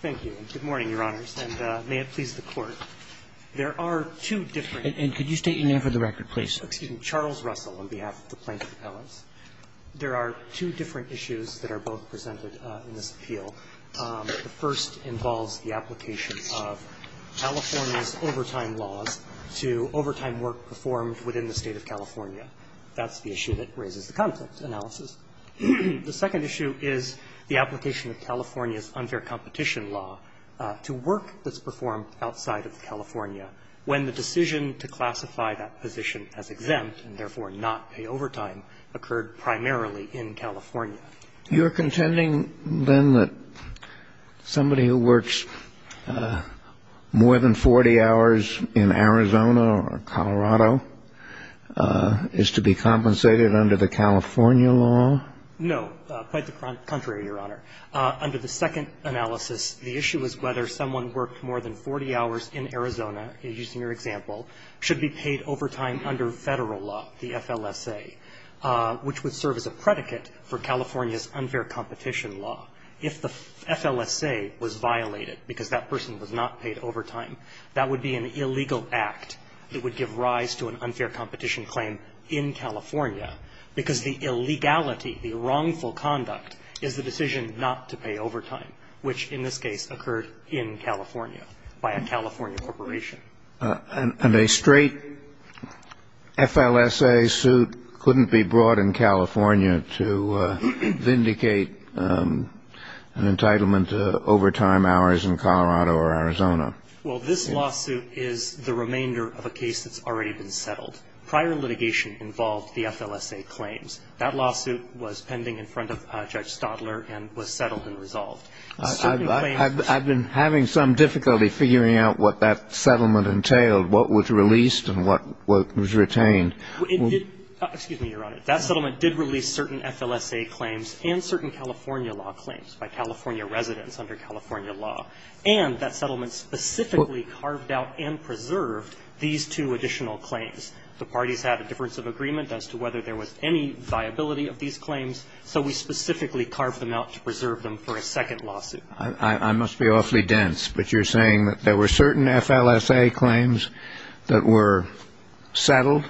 Thank you, and good morning, Your Honors, and may it please the Court, there are two different. And could you state your name for the record, please? Excuse me, Charles Russell, on behalf of the Plaintiff Appellants. There are two different issues that are both presented in this appeal. The first involves the application of California's overtime laws to overtime work performed within the State of California. That's the issue that raises the conflict analysis. The second issue is the application of California's unfair competition law to work that's performed outside of California, when the decision to classify that position as exempt, and therefore not pay overtime, occurred primarily in California. You're contending, then, that somebody who works more than 40 hours in Arizona or Colorado is to be compensated under the California law? No, quite the contrary, Your Honor. Under the second analysis, the issue is whether someone worked more than 40 hours in Arizona, using your example, should be paid overtime under Federal law, the FLSA, which would serve as a predicate for California's unfair competition law. If the FLSA was violated because that person was not paid overtime, that would be an illegal act that would give rise to an unfair competition claim in California, because the illegality, the wrongful conduct, is the decision not to pay overtime, which, in this case, occurred in California by a California corporation. And a straight FLSA suit couldn't be brought in California to vindicate an entitlement to overtime hours in Colorado or Arizona? Well, this lawsuit is the remainder of a case that's already been settled. Prior litigation involved the FLSA claims. That lawsuit was pending in front of Judge Stadler and was settled and resolved. I've been having some difficulty figuring out what that settlement entailed, what was released and what was retained. Excuse me, Your Honor. That settlement did release certain FLSA claims and certain California law claims by California residents under California law, and that settlement specifically carved out and preserved these two additional claims. The parties had a difference of agreement as to whether there was any viability of these claims, so we specifically carved them out to preserve them for a second lawsuit. I must be awfully dense, but you're saying that there were certain FLSA claims that were settled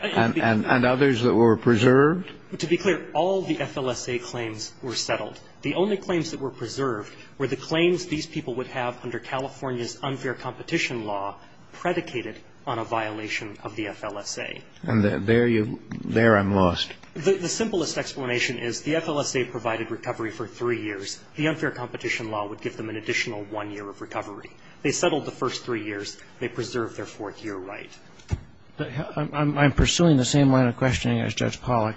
and others that were preserved? To be clear, all the FLSA claims were settled. The only claims that were preserved were the claims these people would have under California's unfair competition law predicated on a violation of the FLSA. And there you – there I'm lost. The simplest explanation is the FLSA provided recovery for three years. The unfair competition law would give them an additional one year of recovery. They settled the first three years. They preserved their fourth year right. I'm pursuing the same line of questioning as Judge Pollack.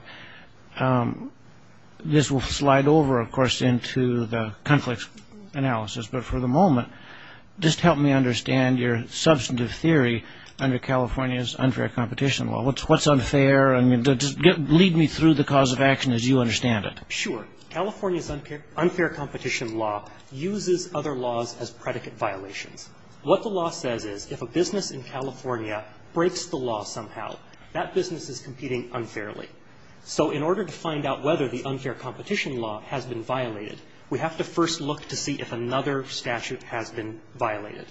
This will slide over, of course, into the conflict analysis, but for the moment, just help me understand your substantive theory under California's unfair competition law. What's unfair? I mean, just lead me through the cause of action as you understand it. Sure. California's unfair competition law uses other laws as predicate violations. What the law says is if a business in California breaks the law somehow, that business is competing unfairly. So in order to find out whether the unfair competition law has been violated, we have to first look to see if another statute has been violated.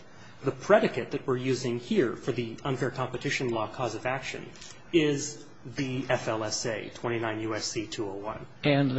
The predicate that we're using here for the unfair competition law cause of action is the FLSA, 29 U.S.C. 201. And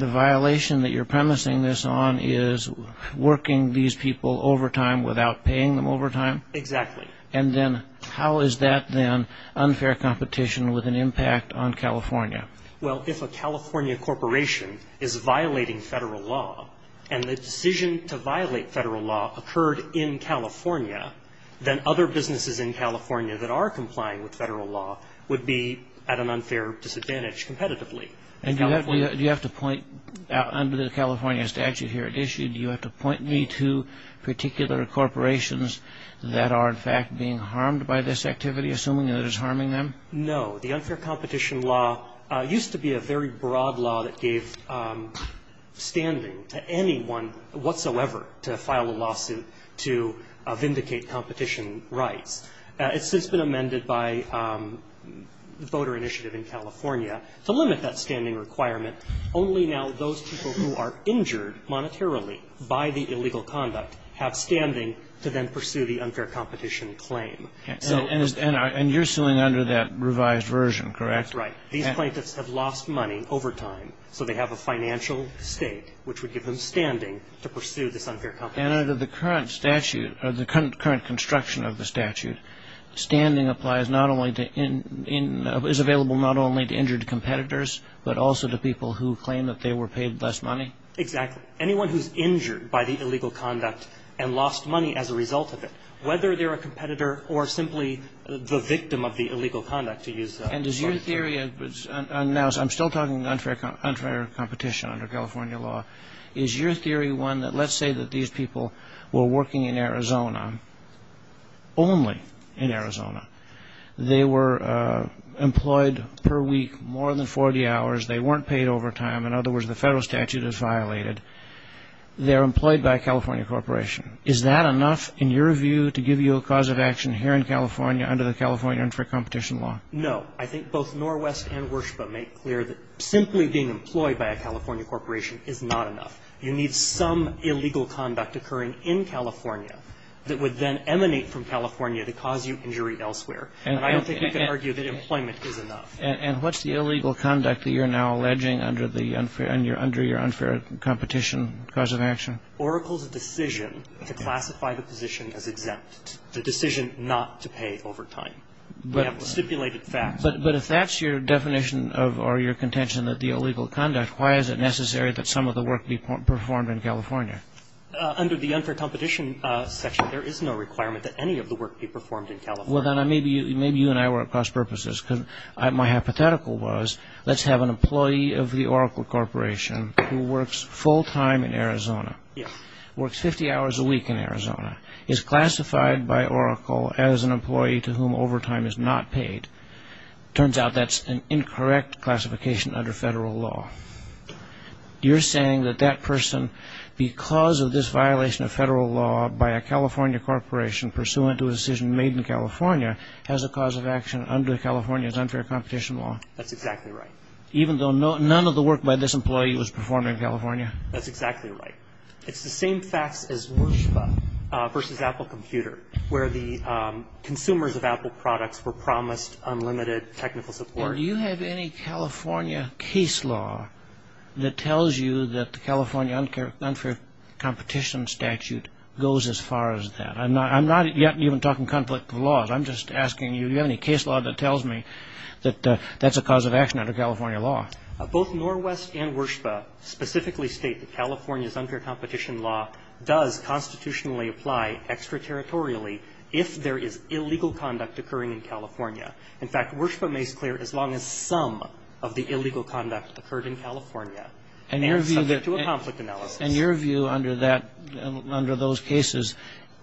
the violation that you're premising this on is working these people overtime without paying them overtime? Exactly. And then how is that then unfair competition with an impact on California? Well, if a California corporation is violating federal law, and the decision to violate federal law occurred in California, then other businesses in California that are complying with federal law would be at an unfair disadvantage competitively. And do you have to point, under the California statute here at issue, do you have to point me to particular corporations that are, in fact, being harmed by this activity, assuming that it is harming them? No. The unfair competition law used to be a very broad law that gave standing to anyone whatsoever to file a lawsuit to vindicate competition rights. It's since been amended by the voter initiative in California to limit that standing requirement. Only now those people who are injured monetarily by the illegal conduct have standing to then pursue the unfair competition claim. And you're suing under that revised version, correct? That's right. These plaintiffs have lost money overtime, so they have a financial state which would give them standing to pursue this unfair competition. And under the current statute, or the current construction of the statute, standing applies not only to – is available not only to injured competitors, but also to people who claim that they were paid less money? Exactly. Anyone who's injured by the illegal conduct and lost money as a result of it, whether they're a competitor or simply the victim of the illegal conduct, to use a – And is your theory – now, I'm still talking unfair competition under California law. Is your theory one that, let's say that these people were working in Arizona, only in Arizona. They were employed per week more than 40 hours. They weren't paid overtime. In other words, the federal statute is violated. They're employed by a California corporation. Is that enough, in your view, to give you a cause of action here in California under the California unfair competition law? No. I think both Norwest and Worship have made clear that simply being employed by a California corporation is not enough. You need some illegal conduct occurring in California that would then emanate from California to cause you injury elsewhere. And I don't think we can argue that employment is enough. And what's the illegal conduct that you're now alleging under the – under your unfair competition cause of action? Oracle's decision to classify the position as exempt, the decision not to pay overtime. We have stipulated facts. But if that's your definition of – or your contention that the illegal conduct, why is it necessary that some of the work be performed in California? Under the unfair competition section, there is no requirement that any of the work be performed in California. Well, then maybe you and I were at cross purposes. Because my hypothetical was, let's have an employee of the Oracle corporation who works full time in Arizona, works 50 hours a week in Arizona, is classified by Oracle as an employee to whom overtime is not paid. Turns out that's an incorrect classification under federal law. You're saying that that person, because of this violation of federal law by a California corporation pursuant to a decision made in California, has a cause of action under California's unfair competition law? That's exactly right. Even though none of the work by this employee was performed in California? That's exactly right. It's the same facts as WIRSPA versus Apple Computer, where the consumers of Apple products were promised unlimited technical support. Do you have any California case law that tells you that the California unfair competition statute goes as far as that? I'm not even talking conflict of laws. I'm just asking you, do you have any case law that tells me that that's a cause of action under California law? Both NorWest and WIRSPA specifically state that California's unfair competition law does constitutionally apply extraterritorially if there is illegal conduct occurring in California. In fact, WIRSPA makes clear as long as some of the illegal conduct occurred in California and subject to a conflict analysis. And your view under that, under those cases,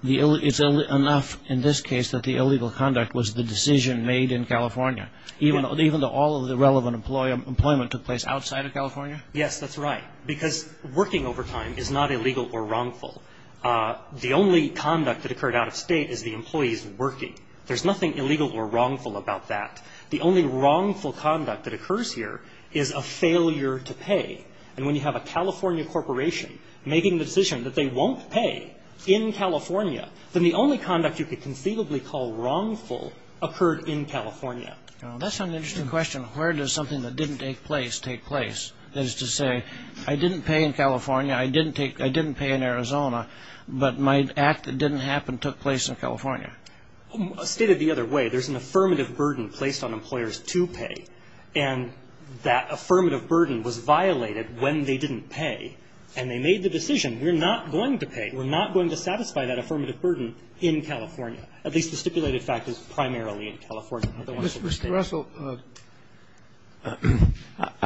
it's enough in this case that the illegal conduct was the decision made in California, even though all of the relevant employment took place outside of California? Yes, that's right. Because working overtime is not illegal or wrongful. The only conduct that occurred out of state is the employees working. There's nothing illegal or wrongful about that. The only wrongful conduct that occurs here is a failure to pay. And when you have a California corporation making the decision that they won't pay in California, then the only conduct you could conceivably call wrongful occurred in California. That's an interesting question. Where does something that didn't take place take place? That is to say, I didn't pay in California, I didn't pay in Arizona, but my act that didn't happen took place in California. Stated the other way, there's an affirmative burden placed on employers to pay. And that affirmative burden was violated when they didn't pay. And they made the decision, we're not going to pay, we're not going to satisfy that affirmative burden in California. At least the stipulated fact is primarily in California. Mr. Russell,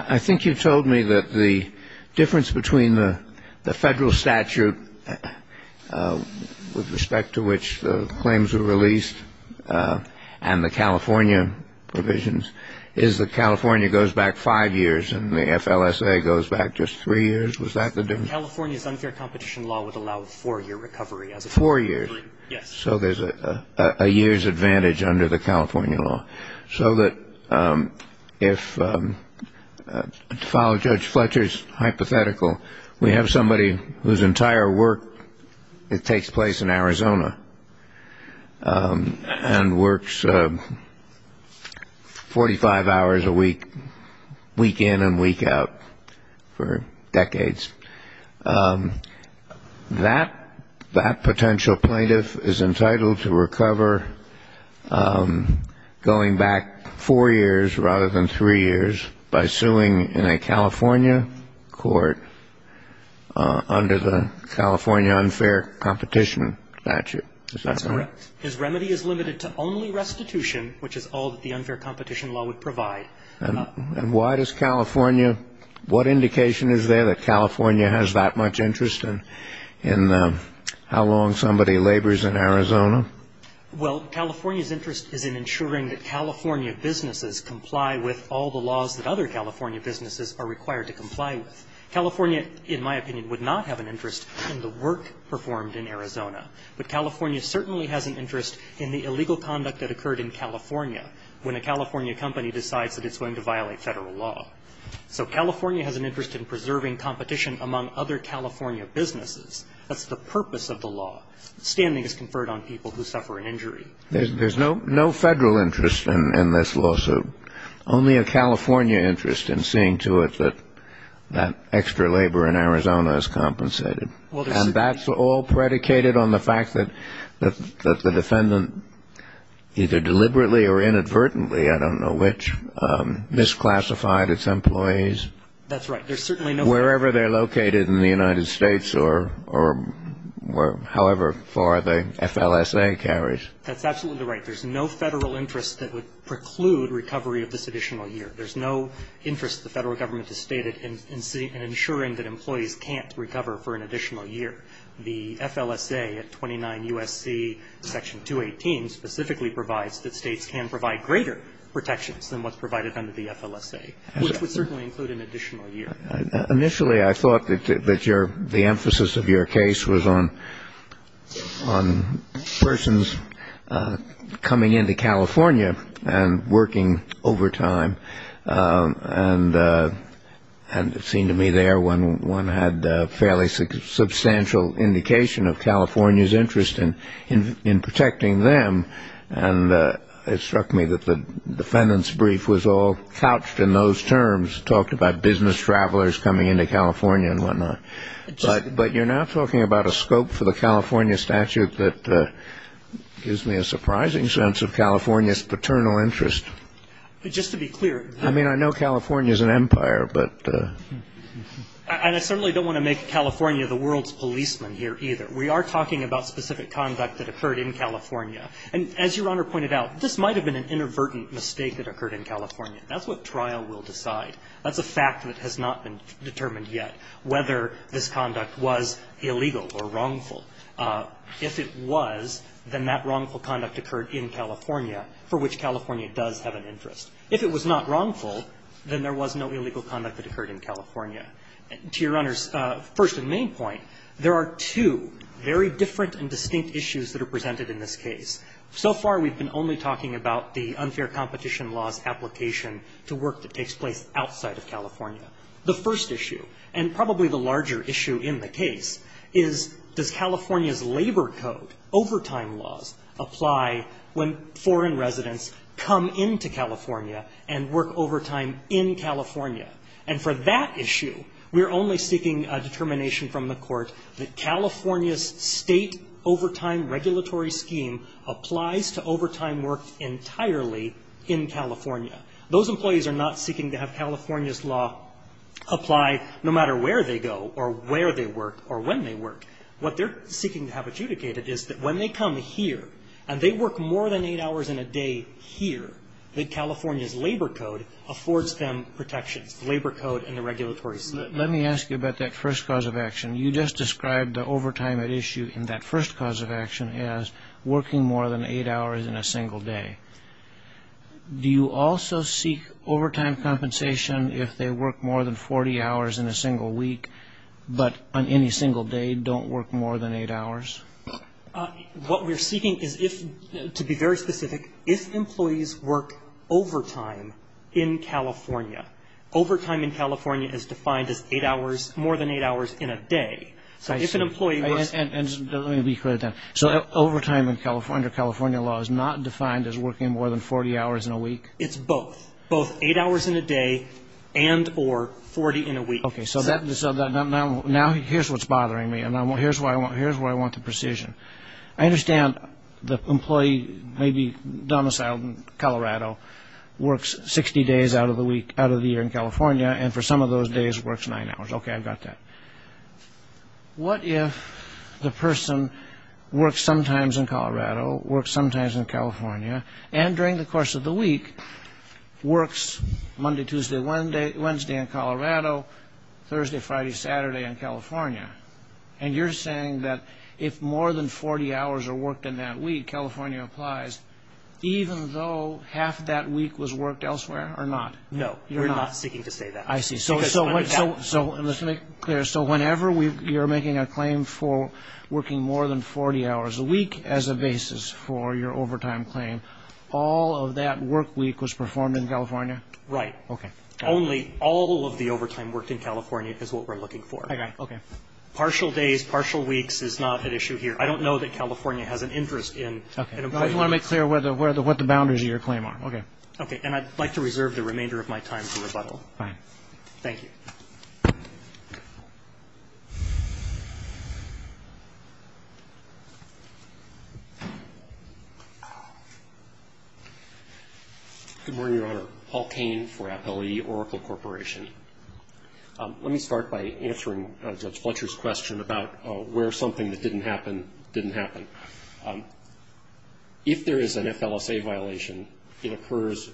I think you've told me that the difference between the Federal statute with respect to which the claims were released and the California provisions is that California goes back five years and the FLSA goes back just three years. Was that the difference? California's unfair competition law would allow a four-year recovery as a- Four years? Yes. So there's a year's advantage under the California law. So that if, to follow Judge Fletcher's hypothetical, we have somebody whose entire work takes place in Arizona and works 45 hours a week, week in and week out, for decades. That potential plaintiff is entitled to recover going back four years rather than three years by suing in a California court under the California unfair competition statute. Is that correct? That's correct. His remedy is limited to only restitution, which is all that the unfair competition law would provide. And why does California – what indication is there that California has that much interest in how long somebody labors in Arizona? Well, California's interest is in ensuring that California businesses comply with all the laws that other California businesses are required to comply with. California, in my opinion, would not have an interest in the work performed in Arizona. But California certainly has an interest in the illegal conduct that occurred in California when a California company decides that it's going to violate Federal law. So California has an interest in preserving competition among other California businesses. That's the purpose of the law. Standing is conferred on people who suffer an injury. There's no Federal interest in this lawsuit. Only a California interest in seeing to it that that extra labor in Arizona is compensated. And that's all predicated on the fact that the defendant either deliberately or inadvertently – I don't know which – misclassified its employees. That's right. There's certainly no – That's absolutely right. There's no Federal interest that would preclude recovery of this additional year. There's no interest the Federal Government has stated in ensuring that employees can't recover for an additional year. The FLSA at 29 U.S.C. Section 218 specifically provides that states can provide greater protections than what's provided under the FLSA, which would certainly include an additional year. Initially, I thought that you're – the emphasis was on the federal government and the emphasis of your case was on persons coming into California and working overtime. And it seemed to me there when one had fairly substantial indication of California's interest in protecting them. And it struck me that the defendant's brief was all couched in those terms, talked about business travelers coming into California and whatnot. But you're now talking about a scope for the California statute that gives me a surprising sense of California's paternal interest. Just to be clear – I mean, I know California's an empire, but – And I certainly don't want to make California the world's policeman here either. We are talking about specific conduct that occurred in California. And as Your Honor pointed out, this might have been an inadvertent mistake that occurred in California. That's what trial will decide. That's a fact that has not been determined yet, whether this conduct was illegal or wrongful. If it was, then that wrongful conduct occurred in California, for which California does have an interest. If it was not wrongful, then there was no illegal conduct that occurred in California. To Your Honor's first and main point, there are two very different and distinct issues that are presented in this case. So far, we've been only talking about the unfair competition laws application to work that takes place outside of California. The first issue, and probably the larger issue in the case, is does California's labor code, overtime laws, apply when foreign residents come into California and work overtime in California? And for that issue, we're only seeking a determination from the Court that California's state overtime regulatory scheme applies to overtime work entirely in California. Those employees are not seeking to have California's law apply no matter where they go or where they work or when they work. What they're seeking to have adjudicated is that when they come here and they work more than eight hours in a day here, that California's labor code affords them protections, labor code and the regulatory scheme. Let me ask you about that first cause of action. You just described the overtime at issue in that first cause of action as working more than eight hours in a single day. Do you also seek overtime compensation if they work more than 40 hours in a single week, but on any single day don't work more than eight hours? What we're seeking is if, to be very specific, if employees work overtime in California. Overtime in California is defined as eight hours, more than eight hours in a day. So if an employee works Let me rephrase that. So overtime under California law is not defined as working more than 40 hours in a week? It's both. Both eight hours in a day and or 40 in a week. Okay. So now here's what's bothering me. Here's where I want the precision. I understand the employee may be domiciled in Colorado, works 60 days out of the year in California, and for some of those days works nine hours. Okay. I've got that. What if the person works sometimes in Colorado, works sometimes in California, and during the course of the week works Monday, Tuesday, Wednesday in Colorado, Thursday, Friday, Saturday in California? And you're saying that if more than 40 hours are worked in that week, California applies, even though half that week was worked elsewhere or not? No, we're not seeking to say that. I see. Let's make it clear. So whenever you're making a claim for working more than 40 hours a week as a basis for your overtime claim, all of that work week was performed in California? Right. Okay. Only all of the overtime worked in California is what we're looking for. Okay. Partial days, partial weeks is not an issue here. I don't know that California has an interest in an employee. I just want to make clear what the boundaries of your claim are. Okay. Okay. And I'd like to reserve the remainder of my time for rebuttal. Fine. Thank you. Good morning, Your Honor. Paul Cain for Appellee Oracle Corporation. Let me start by answering Judge Fletcher's question about where something that didn't happen didn't happen. If there is an FLSA violation, it occurs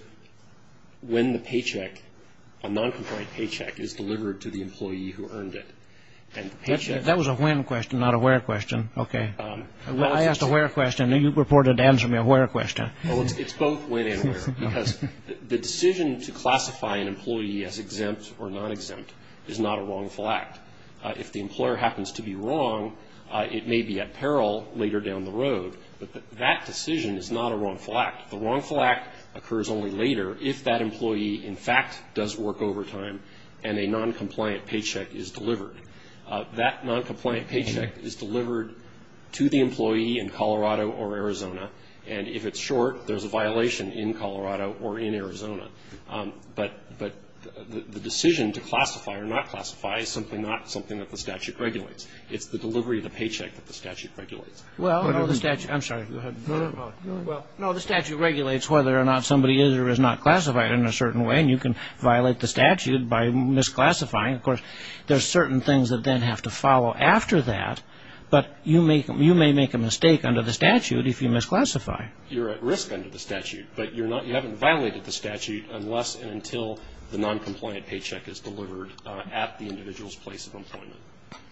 when the paycheck, a non-compliant paycheck, is delivered to the employee who earned it. That was a when question, not a where question. Okay. I asked a where question, and you reported to answer me a where question. Well, it's both when and where, because the decision to classify an employee as exempt or non-exempt is not a wrongful act. If the employer happens to be wrong, it may be at peril later down the road. But that decision is not a wrongful act. The wrongful act occurs only later if that employee, in fact, does work overtime and a non-compliant paycheck is delivered. That non-compliant paycheck is delivered to the employee in Colorado or Arizona. And if it's short, there's a violation in Colorado or in Arizona. But the decision to classify or not classify is simply not something that the statute regulates. It's the delivery of the paycheck that the statute regulates. Well, no, the statute regulates whether or not somebody is or is not classified in a certain way, and you can violate the statute by misclassifying. Of course, there are certain things that then have to follow after that. But you may make a mistake under the statute if you misclassify. You're at risk under the statute, but you haven't violated the statute unless and until the non-compliant paycheck is delivered at the individual's place of employment.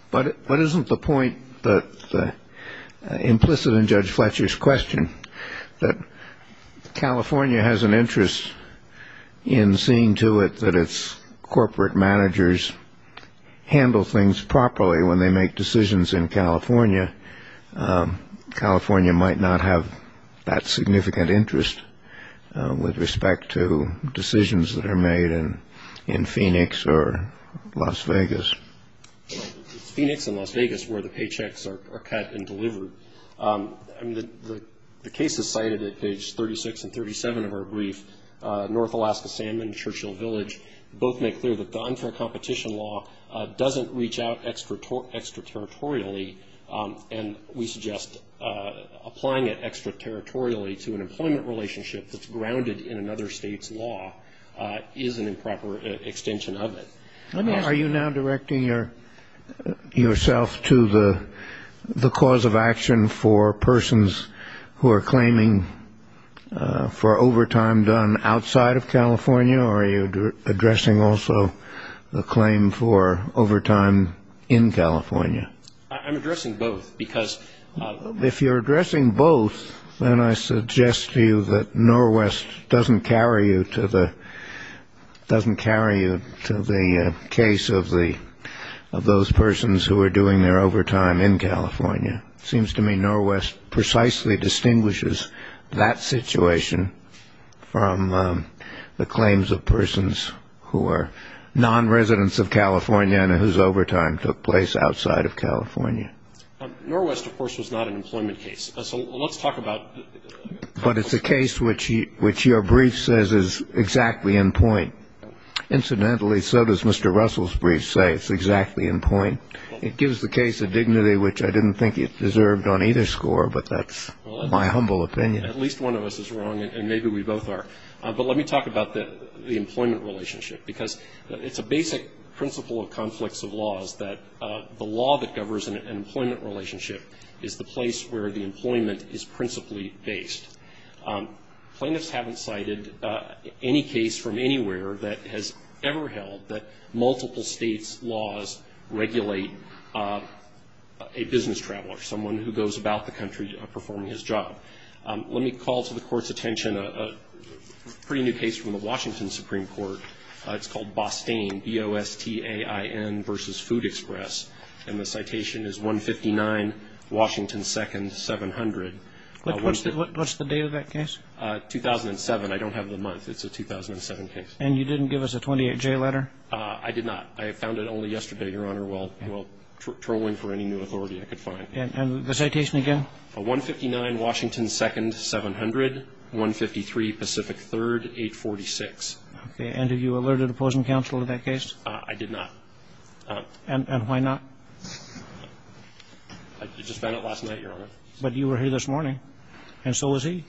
But isn't the point implicit in Judge Fletcher's question that California has an interest in seeing to it that its corporate managers handle things properly when they make decisions in California? California might not have that significant interest with respect to decisions that are made in Phoenix or Las Vegas. Well, it's Phoenix and Las Vegas where the paychecks are cut and delivered. I mean, the case is cited at page 36 and 37 of our brief. North Alaska Salmon, Churchill Village, both make clear that the unfair competition law doesn't reach out extraterritorially, and we suggest applying it extraterritorially to an employment relationship that's grounded in another state's law is an improper extension of it. Are you now directing yourself to the cause of action for persons who are claiming for overtime done outside of California? Or are you addressing also the claim for overtime in California? I'm addressing both, because... If you're addressing both, then I suggest to you that Norwest doesn't carry you to the case of those persons It seems to me Norwest precisely distinguishes that situation from the claims of persons who are non-residents of California and whose overtime took place outside of California. Norwest, of course, was not an employment case. So let's talk about... But it's a case which your brief says is exactly in point. Incidentally, so does Mr. Russell's brief say it's exactly in point. It gives the case a dignity which I didn't think it deserved on either score, but that's my humble opinion. At least one of us is wrong, and maybe we both are. But let me talk about the employment relationship, because it's a basic principle of conflicts of laws that the law that governs an employment relationship is the place where the employment is principally based. Plaintiffs haven't cited any case from anywhere that has ever held that multiple states' laws regulate a business traveler, someone who goes about the country performing his job. Let me call to the Court's attention a pretty new case from the Washington Supreme Court. It's called Bostain, B-O-S-T-A-I-N, v. Food Express, and the citation is 159 Washington 2nd, 700. What's the date of that case? 2007. I don't have the month. It's a 2007 case. And you didn't give us a 28-J letter? I did not. I found it only yesterday, Your Honor, while trolling for any new authority I could find. And the citation again? 159 Washington 2nd, 700, 153 Pacific 3rd, 846. And have you alerted opposing counsel to that case? I did not. And why not? I just found it last night, Your Honor. But you were here this morning, and so was he.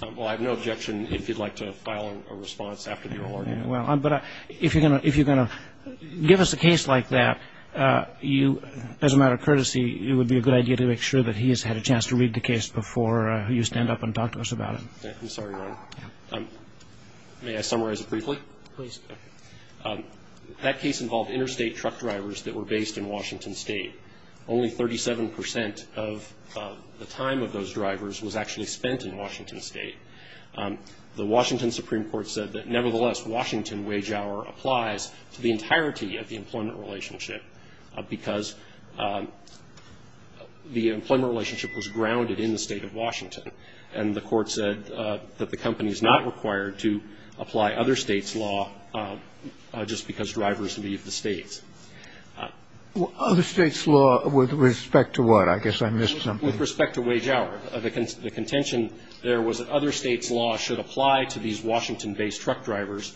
Well, I have no objection if you'd like to file a response after the alert. But if you're going to give us a case like that, as a matter of courtesy, it would be a good idea to make sure that he has had a chance to read the case before you stand up and talk to us about it. I'm sorry, Your Honor. May I summarize it briefly? Please. That case involved interstate truck drivers that were based in Washington State. Only 37 percent of the time of those drivers was actually spent in Washington State. The Washington Supreme Court said that, nevertheless, Washington wage hour applies to the entirety of the employment relationship because the employment relationship was grounded in the State of Washington. And the Court said that the company is not required to apply other states' law just because drivers leave the States. Other states' law with respect to what? I guess I missed something. With respect to wage hour. The contention there was that other states' law should apply to these Washington-based truck drivers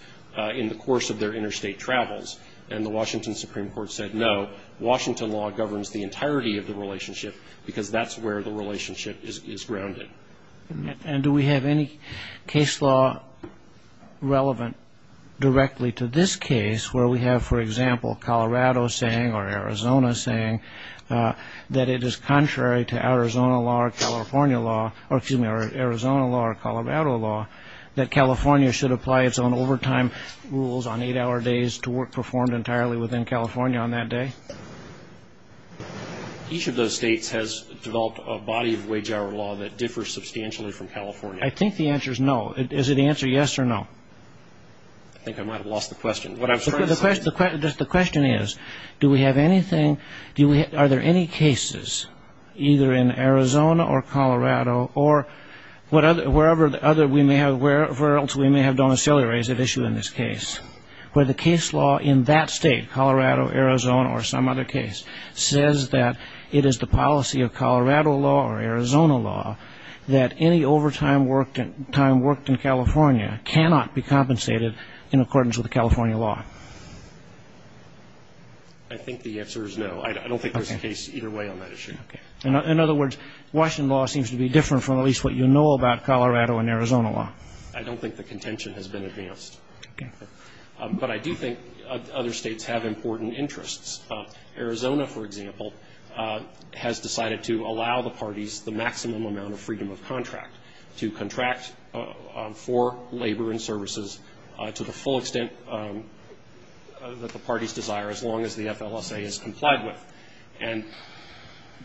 in the course of their interstate travels. And the Washington Supreme Court said, no, Washington law governs the entirety of the relationship because that's where the relationship is grounded. And do we have any case law relevant directly to this case where we have, for example, Colorado saying or Arizona saying that it is contrary to Arizona law or California law, or excuse me, Arizona law or Colorado law, that California should apply its own overtime rules on eight-hour days to work performed entirely within California on that day? Each of those states has developed a body of wage hour law that differs substantially from California. I think the answer is no. Is the answer yes or no? I think I might have lost the question. The question is, do we have anything, are there any cases either in Arizona or Colorado or wherever else we may have domiciliary rates at issue in this case, where the case law in that state, Colorado, Arizona, or some other case says that it is the policy of Colorado law or Arizona law that any overtime worked in California cannot be compensated in accordance with California law? I think the answer is no. I don't think there's a case either way on that issue. Okay. In other words, Washington law seems to be different from at least what you know about Colorado and Arizona law. I don't think the contention has been advanced. Okay. But I do think other states have important interests. Arizona, for example, has decided to allow the parties the maximum amount of freedom of contract to contract for labor and services to the full extent that the parties desire as long as the FLSA is complied with. And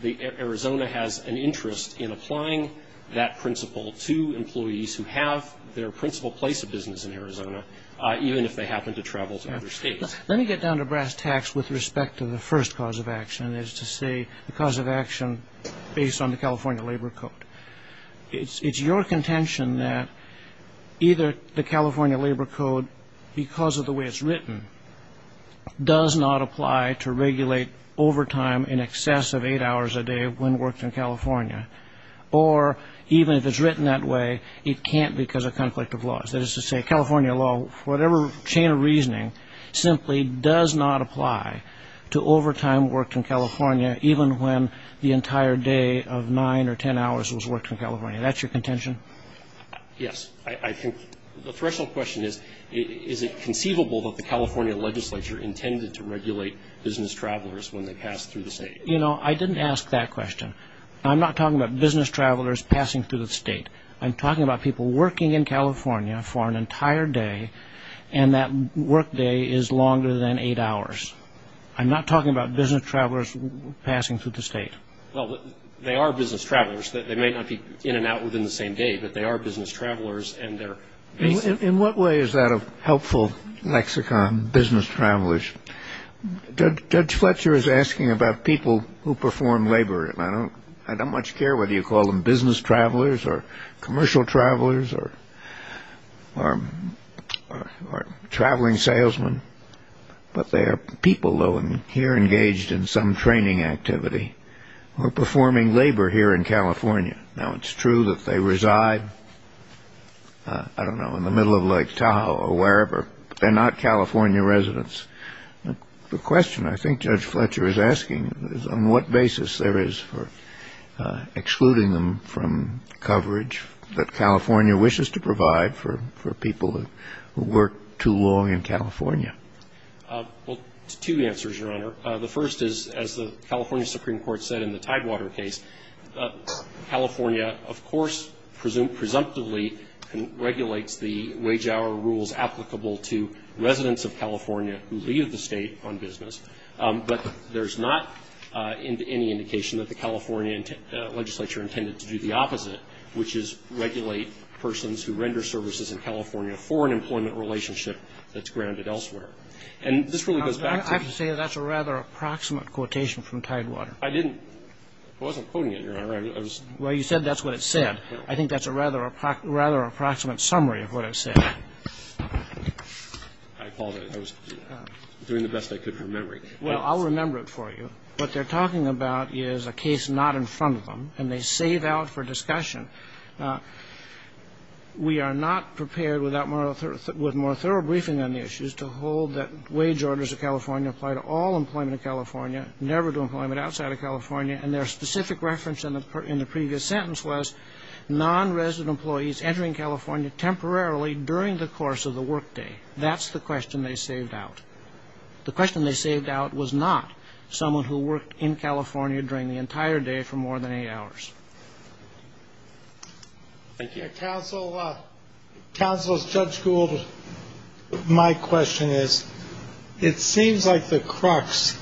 Arizona has an interest in applying that principle to employees who have their principal place of business in Arizona, even if they happen to travel to other states. Let me get down to brass tacks with respect to the first cause of action, and that is to say the cause of action based on the California Labor Code. It's your contention that either the California Labor Code, because of the way it's written, does not apply to regulate overtime in excess of eight hours a day when worked in California, or even if it's written that way, it can't because of conflict of laws. That is to say, California law, whatever chain of reasoning, simply does not apply to overtime worked in California even when the entire day of nine or ten hours was worked in California. That's your contention? Yes. The threshold question is, is it conceivable that the California legislature intended to regulate business travelers when they passed through the state? I didn't ask that question. I'm not talking about business travelers passing through the state. I'm talking about people working in California for an entire day, and that work day is longer than eight hours. I'm not talking about business travelers passing through the state. Well, they are business travelers. They may not be in and out within the same day, but they are business travelers. In what way is that a helpful lexicon, business travelers? Judge Fletcher is asking about people who perform labor, and I don't much care whether you call them business travelers or commercial travelers or traveling salesmen, but they are people, though, and here engaged in some training activity or performing labor here in California. Now, it's true that they reside, I don't know, in the middle of Lake Tahoe or wherever, but they're not California residents. The question I think Judge Fletcher is asking is, on what basis there is for excluding them from coverage that California wishes to provide for people who work too long in California? Well, two answers, Your Honor. The first is, as the California Supreme Court said in the Tidewater case, California, of course, presumptively regulates the wage-hour rules applicable to residents of California who leave the state on business, but there's not any indication that the California legislature intended to do the opposite, which is regulate persons who render services in California for an employment relationship that's grounded elsewhere. And this really goes back to the ---- I have to say that's a rather approximate quotation from Tidewater. I didn't. I wasn't quoting it, Your Honor. I was ---- Well, you said that's what it said. I think that's a rather approximate summary of what it said. I apologize. I was doing the best I could from memory. Well, I'll remember it for you. What they're talking about is a case not in front of them, and they save out for discussion. We are not prepared with more thorough briefing on the issues to hold that wage orders of California apply to all employment in California, never to employment outside of California. And their specific reference in the previous sentence was non-resident employees entering California temporarily during the course of the workday. That's the question they saved out. The question they saved out was not someone who worked in California during the entire day for more than eight hours. Thank you. Counsel, Judge Gould, my question is, it seems like the crux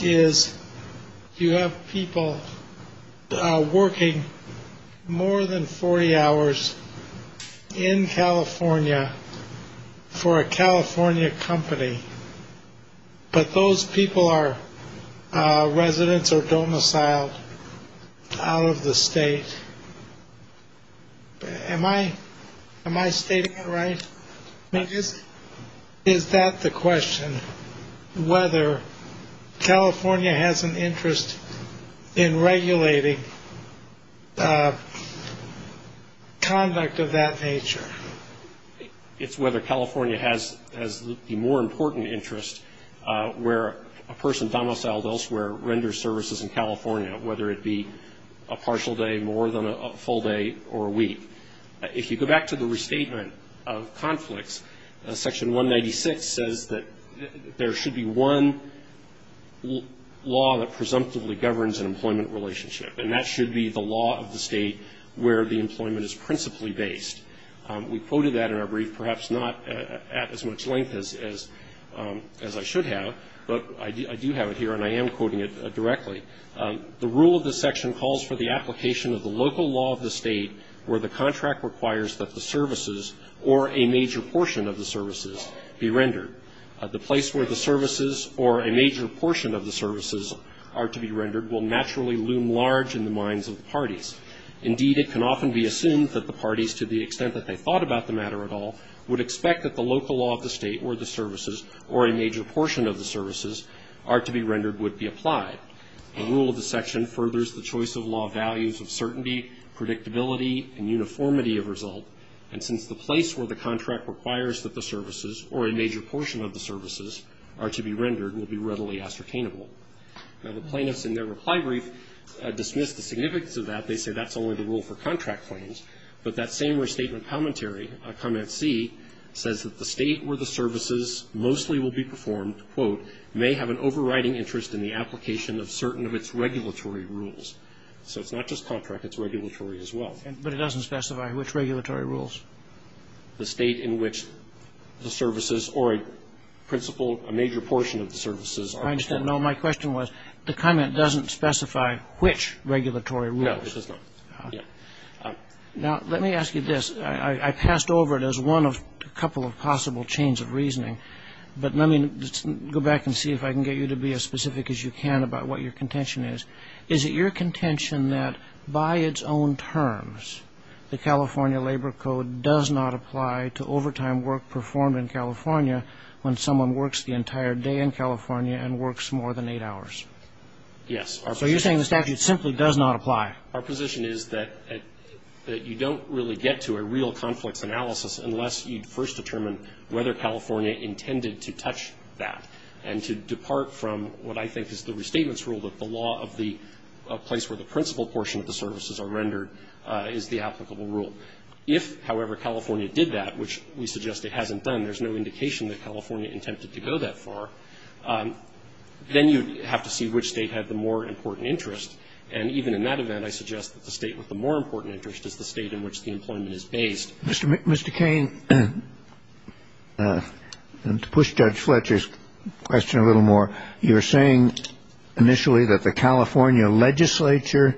is you have people working more than 40 hours in California for a California company, but those people are residents or domiciled out of the state. Am I stating it right? Is that the question, whether California has an interest in regulating conduct of that nature? It's whether California has the more important interest where a person domiciled elsewhere in California, whether it be a partial day, more than a full day, or a week. If you go back to the restatement of conflicts, Section 196 says that there should be one law that presumptively governs an employment relationship, and that should be the law of the state where the employment is principally based. We quoted that in our brief, perhaps not at as much length as I should have, but I do have it here, and I am quoting it directly. The rule of the section calls for the application of the local law of the state where the contract requires that the services or a major portion of the services be rendered. The place where the services or a major portion of the services are to be rendered will naturally loom large in the minds of the parties. Indeed, it can often be assumed that the parties, to the extent that they thought about the matter at all, would expect that the local law of the state or the services or a major portion of the services are to be rendered would be applied. The rule of the section furthers the choice of law values of certainty, predictability, and uniformity of result, and since the place where the contract requires that the services or a major portion of the services are to be rendered will be readily ascertainable. Now, the plaintiffs in their reply brief dismiss the significance of that. They say that's only the rule for contract claims, but that same restatement commentary, comment C, says that the state where the services mostly will be performed, quote, may have an overriding interest in the application of certain of its regulatory rules. So it's not just contract. It's regulatory as well. Kagan. But it doesn't specify which regulatory rules. The state in which the services or a principal, a major portion of the services are to be rendered. I understand. No, my question was the comment doesn't specify which regulatory rules. No, it does not. Now, let me ask you this. I passed over it as one of a couple of possible chains of reasoning. But let me go back and see if I can get you to be as specific as you can about what your contention is. Is it your contention that by its own terms, the California Labor Code does not apply to overtime work performed in California when someone works the entire day in California and works more than eight hours? Yes. So you're saying the statute simply does not apply. Our position is that you don't really get to a real conflicts analysis unless you first determine whether California intended to touch that and to depart from what I think is the restatements rule, that the law of the place where the principal portion of the services are rendered is the applicable rule. If, however, California did that, which we suggest it hasn't done, there's no indication that California intended to go that far, then you'd have to see which state had the more important interest. And even in that event, I suggest that the state with the more important interest is the state in which the employment is based. Mr. Kane, to push Judge Fletcher's question a little more, you were saying initially that the California legislature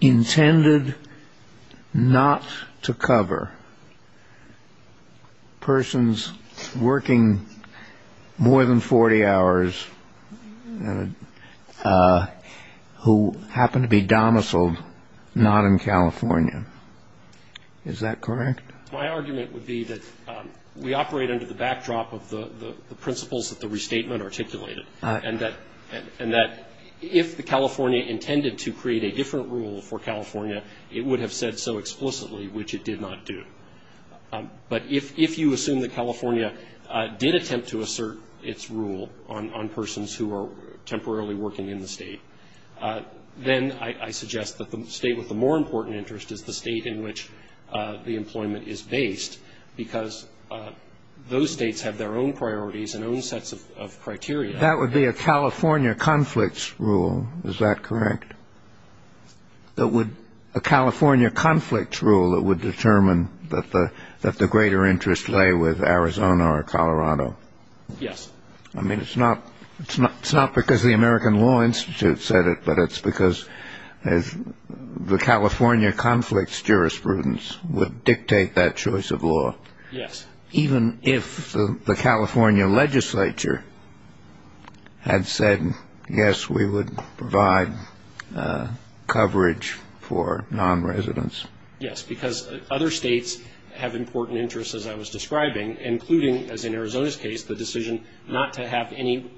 intended not to cover persons working more than 40 hours who happen to be domiciled not in California. Is that correct? My argument would be that we operate under the backdrop of the principles that the restatement articulated, and that if the California intended to create a different rule for California, it would have said so explicitly, which it did not do. But if you assume that California did attempt to assert its rule on persons who are temporarily working in the State, then I suggest that the State with the more important interest is the State in which the employment is based, because those States have their own priorities and own sets of criteria. That would be a California conflicts rule. Is that correct? That would be a California conflicts rule that would determine that the greater interest lay with Arizona or Colorado. Yes. I mean, it's not because the American Law Institute said it, but it's because the California conflicts jurisprudence would dictate that choice of law. Yes. Even if the California legislature had said, yes, we would provide coverage for nonresidents? Yes, because other States have important interests, as I was describing, including, as in Arizona's case, the decision not to have any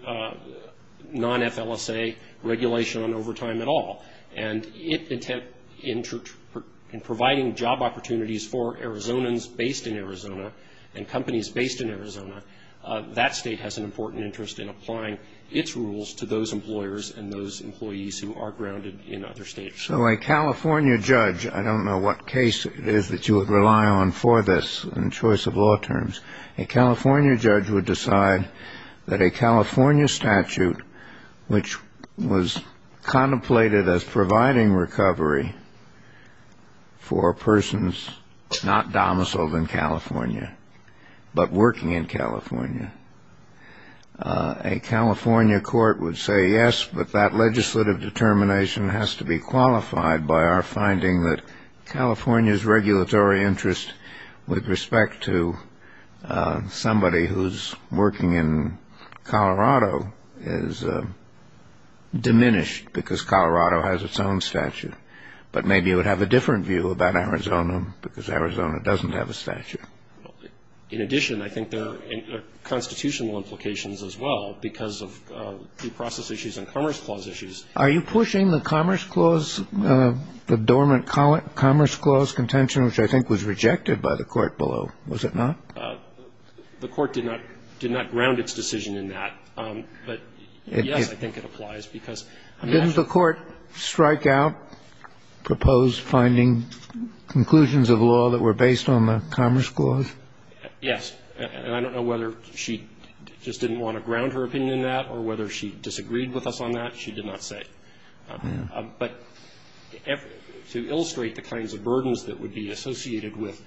non-FLSA regulation on overtime at all. And in providing job opportunities for Arizonans based in Arizona and companies based in Arizona, that State has an important interest in applying its rules to those employers and those employees who are grounded in other States. So a California judge, I don't know what case it is that you would rely on for this in choice of law terms, a California judge would decide that a California statute, which was contemplated as providing recovery for persons not domiciled in California but working in California, a California court would say, yes, but that legislative determination has to be qualified by our finding that California's regulatory interest with respect to somebody who's working in Colorado is diminished because Colorado has its own statute. But maybe you would have a different view about Arizona because Arizona doesn't have a statute. In addition, I think there are constitutional implications as well because of due process issues and Commerce Clause issues. Are you pushing the Commerce Clause, the dormant Commerce Clause contention, which I think was rejected by the Court below? Was it not? The Court did not ground its decision in that. But, yes, I think it applies because it has to be. Kennedy did not propose finding conclusions of law that were based on the Commerce Clause? Yes. And I don't know whether she just didn't want to ground her opinion in that or whether she disagreed with us on that. She did not say. But to illustrate the kinds of burdens that would be associated with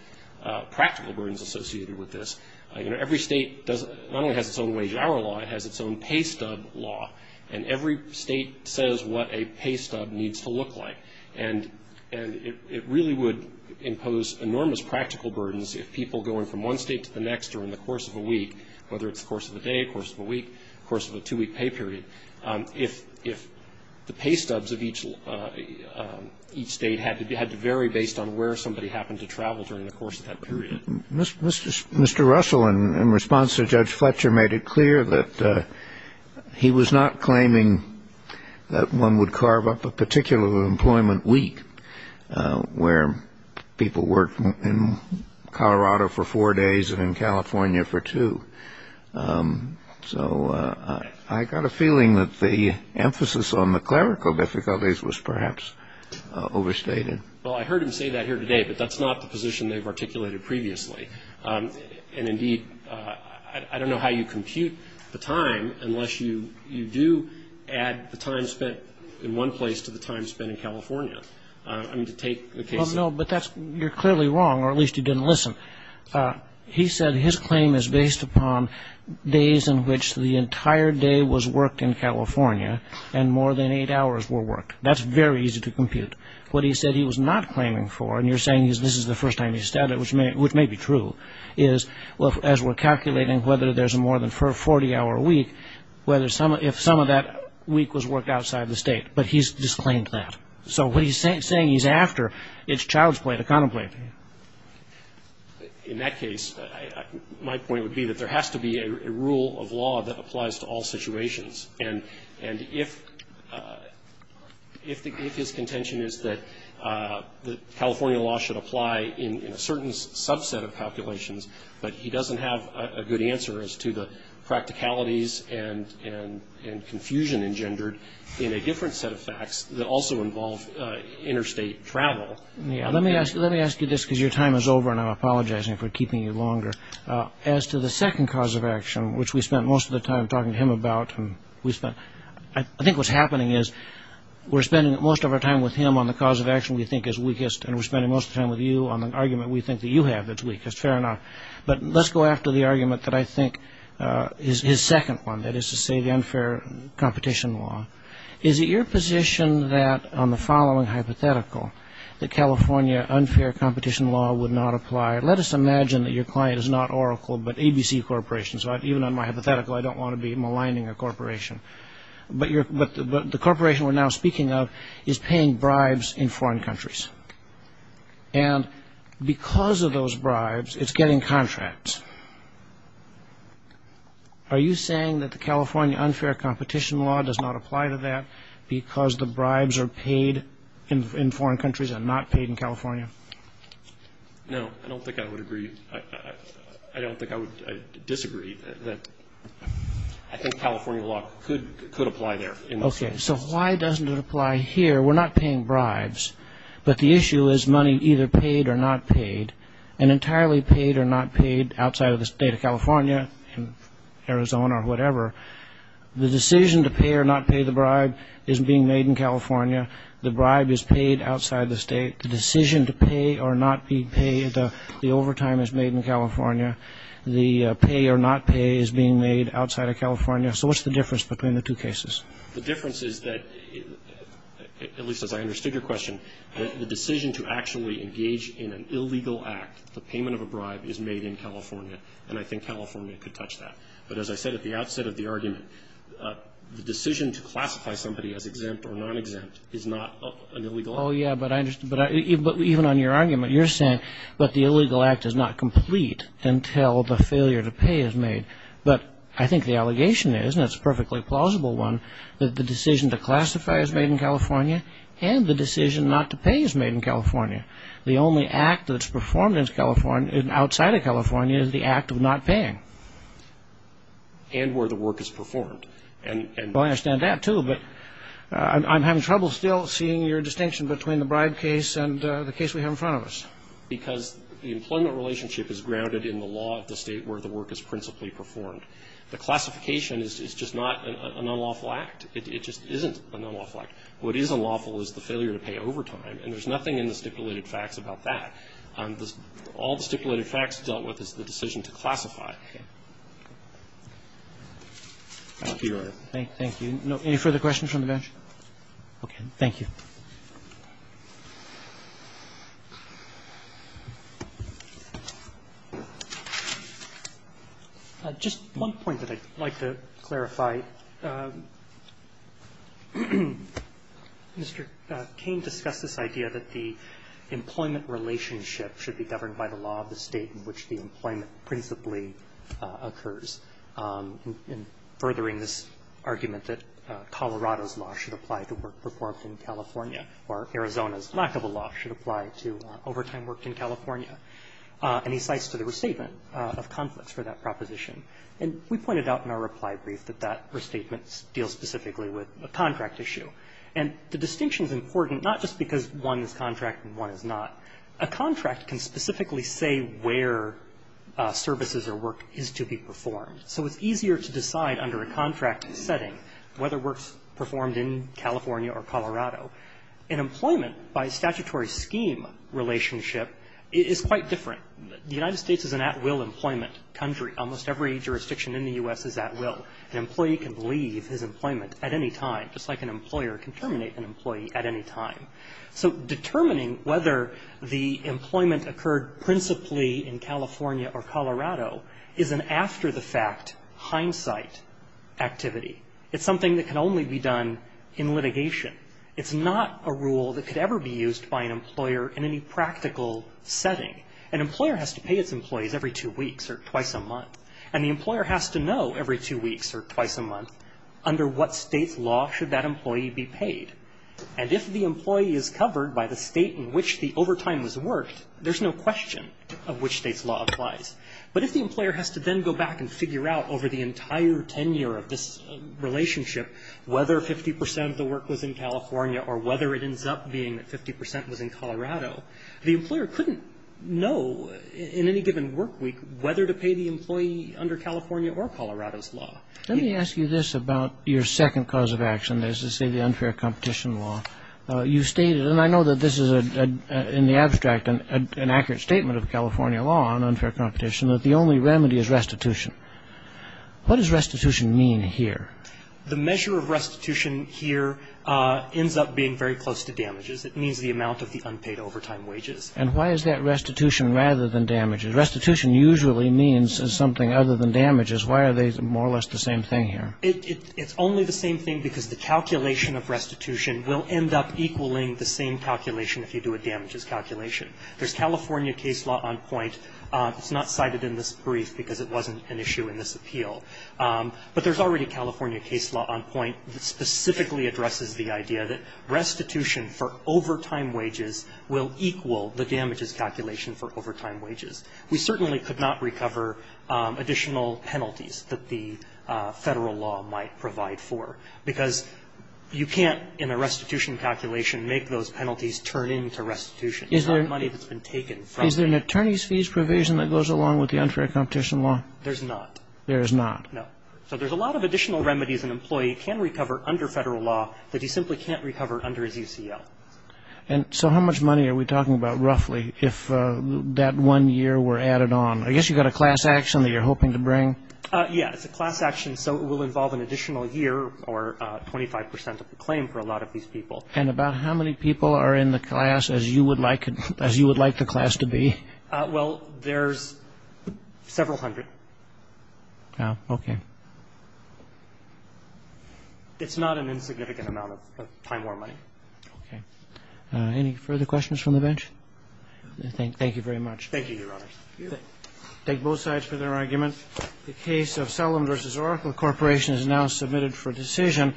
practical burdens associated with this, you know, every State not only has its own wage hour law, it has its own pay stub law. And every State says what a pay stub needs to look like. And it really would impose enormous practical burdens if people going from one State to the next during the course of a week, whether it's the course of a day, the course of a week, the course of a two-week pay period, if the pay stubs of each State had to vary based on where somebody happened to travel during the course of that period. Mr. Russell, in response to Judge Fletcher, made it clear that he was not claiming that one would carve up a particular employment week where people worked in Colorado for four days and in California for two. So I got a feeling that the emphasis on the clerical difficulties was perhaps overstated. Well, I heard him say that here today, but that's not the position they've articulated previously. And, indeed, I don't know how you compute the time unless you do add the time spent in one place to the time spent in California. I mean, to take the case of the... Well, no, but that's you're clearly wrong, or at least you didn't listen. He said his claim is based upon days in which the entire day was worked in California and more than eight hours were worked. That's very easy to compute. What he said he was not claiming for, and you're saying this is the first time he's said it, which may be true, is as we're calculating whether there's a more than 40-hour week, if some of that week was worked outside the State. But he's disclaimed that. So what he's saying he's after, it's child's play to contemplate. In that case, my point would be that there has to be a rule of law that applies to all situations. And if his contention is that California law should apply in a certain subset of calculations but he doesn't have a good answer as to the practicalities and confusion engendered in a different set of facts that also involve interstate travel... Let me ask you this because your time is over and I'm apologizing for keeping you longer. As to the second cause of action, which we spent most of the time talking to him about... I think what's happening is we're spending most of our time with him on the cause of action we think is weakest and we're spending most of the time with you on the argument we think that you have that's weakest. Fair enough. But let's go after the argument that I think is his second one, that is to say the unfair competition law. Is it your position that, on the following hypothetical, that California unfair competition law would not apply? Let us imagine that your client is not Oracle but ABC Corporation. So even on my hypothetical, I don't want to be maligning a corporation. But the corporation we're now speaking of is paying bribes in foreign countries. And because of those bribes, it's getting contracts. Are you saying that the California unfair competition law does not apply to that because the bribes are paid in foreign countries and not paid in California? No, I don't think I would agree. I don't think I would disagree. I think California law could apply there. Okay. So why doesn't it apply here? We're not paying bribes, but the issue is money either paid or not paid, and entirely paid or not paid outside of the state of California, Arizona or whatever. The decision to pay or not pay the bribe is being made in California. The bribe is paid outside the state. The decision to pay or not be paid, the overtime is made in California. The pay or not pay is being made outside of California. So what's the difference between the two cases? The difference is that, at least as I understood your question, the decision to actually engage in an illegal act, the payment of a bribe, is made in California, and I think California could touch that. But as I said at the outset of the argument, the decision to classify somebody as exempt or non-exempt is not an illegal act. Oh, yeah, but even on your argument, you're saying that the illegal act is not complete until the failure to pay is made. But I think the allegation is, and it's a perfectly plausible one, that the decision to classify is made in California and the decision not to pay is made in California. The only act that's performed outside of California is the act of not paying. And where the work is performed. Well, I understand that, too, but I'm having trouble still seeing your distinction between the bribe case and the case we have in front of us. Because the employment relationship is grounded in the law of the State where the work is principally performed. The classification is just not an unlawful act. It just isn't an unlawful act. What is unlawful is the failure to pay overtime, and there's nothing in the stipulated facts about that. All the stipulated facts dealt with is the decision to classify. Thank you, Your Honor. Roberts. Thank you. Any further questions from the bench? Okay. Thank you. Just one point that I'd like to clarify. Mr. Cain discussed this idea that the employment relationship should be governed by the law of the State in which the employment principally occurs. And furthering this argument that Colorado's law should apply to work performed in California, or Arizona's lack of a law should apply to overtime work in California. And he cites to the restatement of conflicts for that proposition. And we pointed out in our reply brief that that restatement deals specifically with a contract issue. And the distinction is important not just because one is contract and one is not. A contract can specifically say where services or work is to be performed. So it's easier to decide under a contract setting whether work is performed in California or Colorado. And employment by statutory scheme relationship is quite different. The United States is an at-will employment country. Almost every jurisdiction in the U.S. is at-will. An employee can leave his employment at any time, just like an employer can terminate an employee at any time. So determining whether the employment occurred principally in California or Colorado is an after-the-fact hindsight activity. It's something that can only be done in litigation. It's not a rule that could ever be used by an employer in any practical setting. An employer has to pay its employees every two weeks or twice a month. And the employer has to know every two weeks or twice a month under what State's law should that employee be paid. And if the employee is covered by the State in which the overtime was worked, there's no question of which State's law applies. But if the employer has to then go back and figure out over the entire tenure of this relationship whether 50 percent of the work was in California or whether it ends up being that 50 percent was in Colorado, the employer couldn't know in any given work week whether to pay the employee under California or Colorado's law. Let me ask you this about your second cause of action, that is to say the unfair competition law. You stated, and I know that this is in the abstract an accurate statement of California law on unfair competition, that the only remedy is restitution. What does restitution mean here? The measure of restitution here ends up being very close to damages. It means the amount of the unpaid overtime wages. And why is that restitution rather than damages? Restitution usually means something other than damages. Why are they more or less the same thing here? It's only the same thing because the calculation of restitution will end up equaling the same calculation if you do a damages calculation. There's California case law on point. It's not cited in this brief because it wasn't an issue in this appeal. But there's already a California case law on point that specifically addresses the idea that restitution for overtime wages will equal the damages calculation for overtime wages. We certainly could not recover additional penalties that the Federal law might provide for because you can't, in a restitution calculation, make those penalties turn into restitution. It's not money that's been taken from you. Is there an attorney's fees provision that goes along with the unfair competition law? There's not. There is not. No. So there's a lot of additional remedies an employee can recover under Federal law that he simply can't recover under his UCL. And so how much money are we talking about roughly if that one year were added on? I guess you've got a class action that you're hoping to bring. Yeah. It's a class action. So it will involve an additional year or 25 percent of the claim for a lot of these people. And about how many people are in the class as you would like the class to be? Well, there's several hundred. Okay. It's not an insignificant amount of time or money. Okay. Any further questions from the bench? Thank you very much. Thank you, Your Honor. Thank you. I thank both sides for their argument. The case of Selim v. Oracle Corporation is now submitted for decision.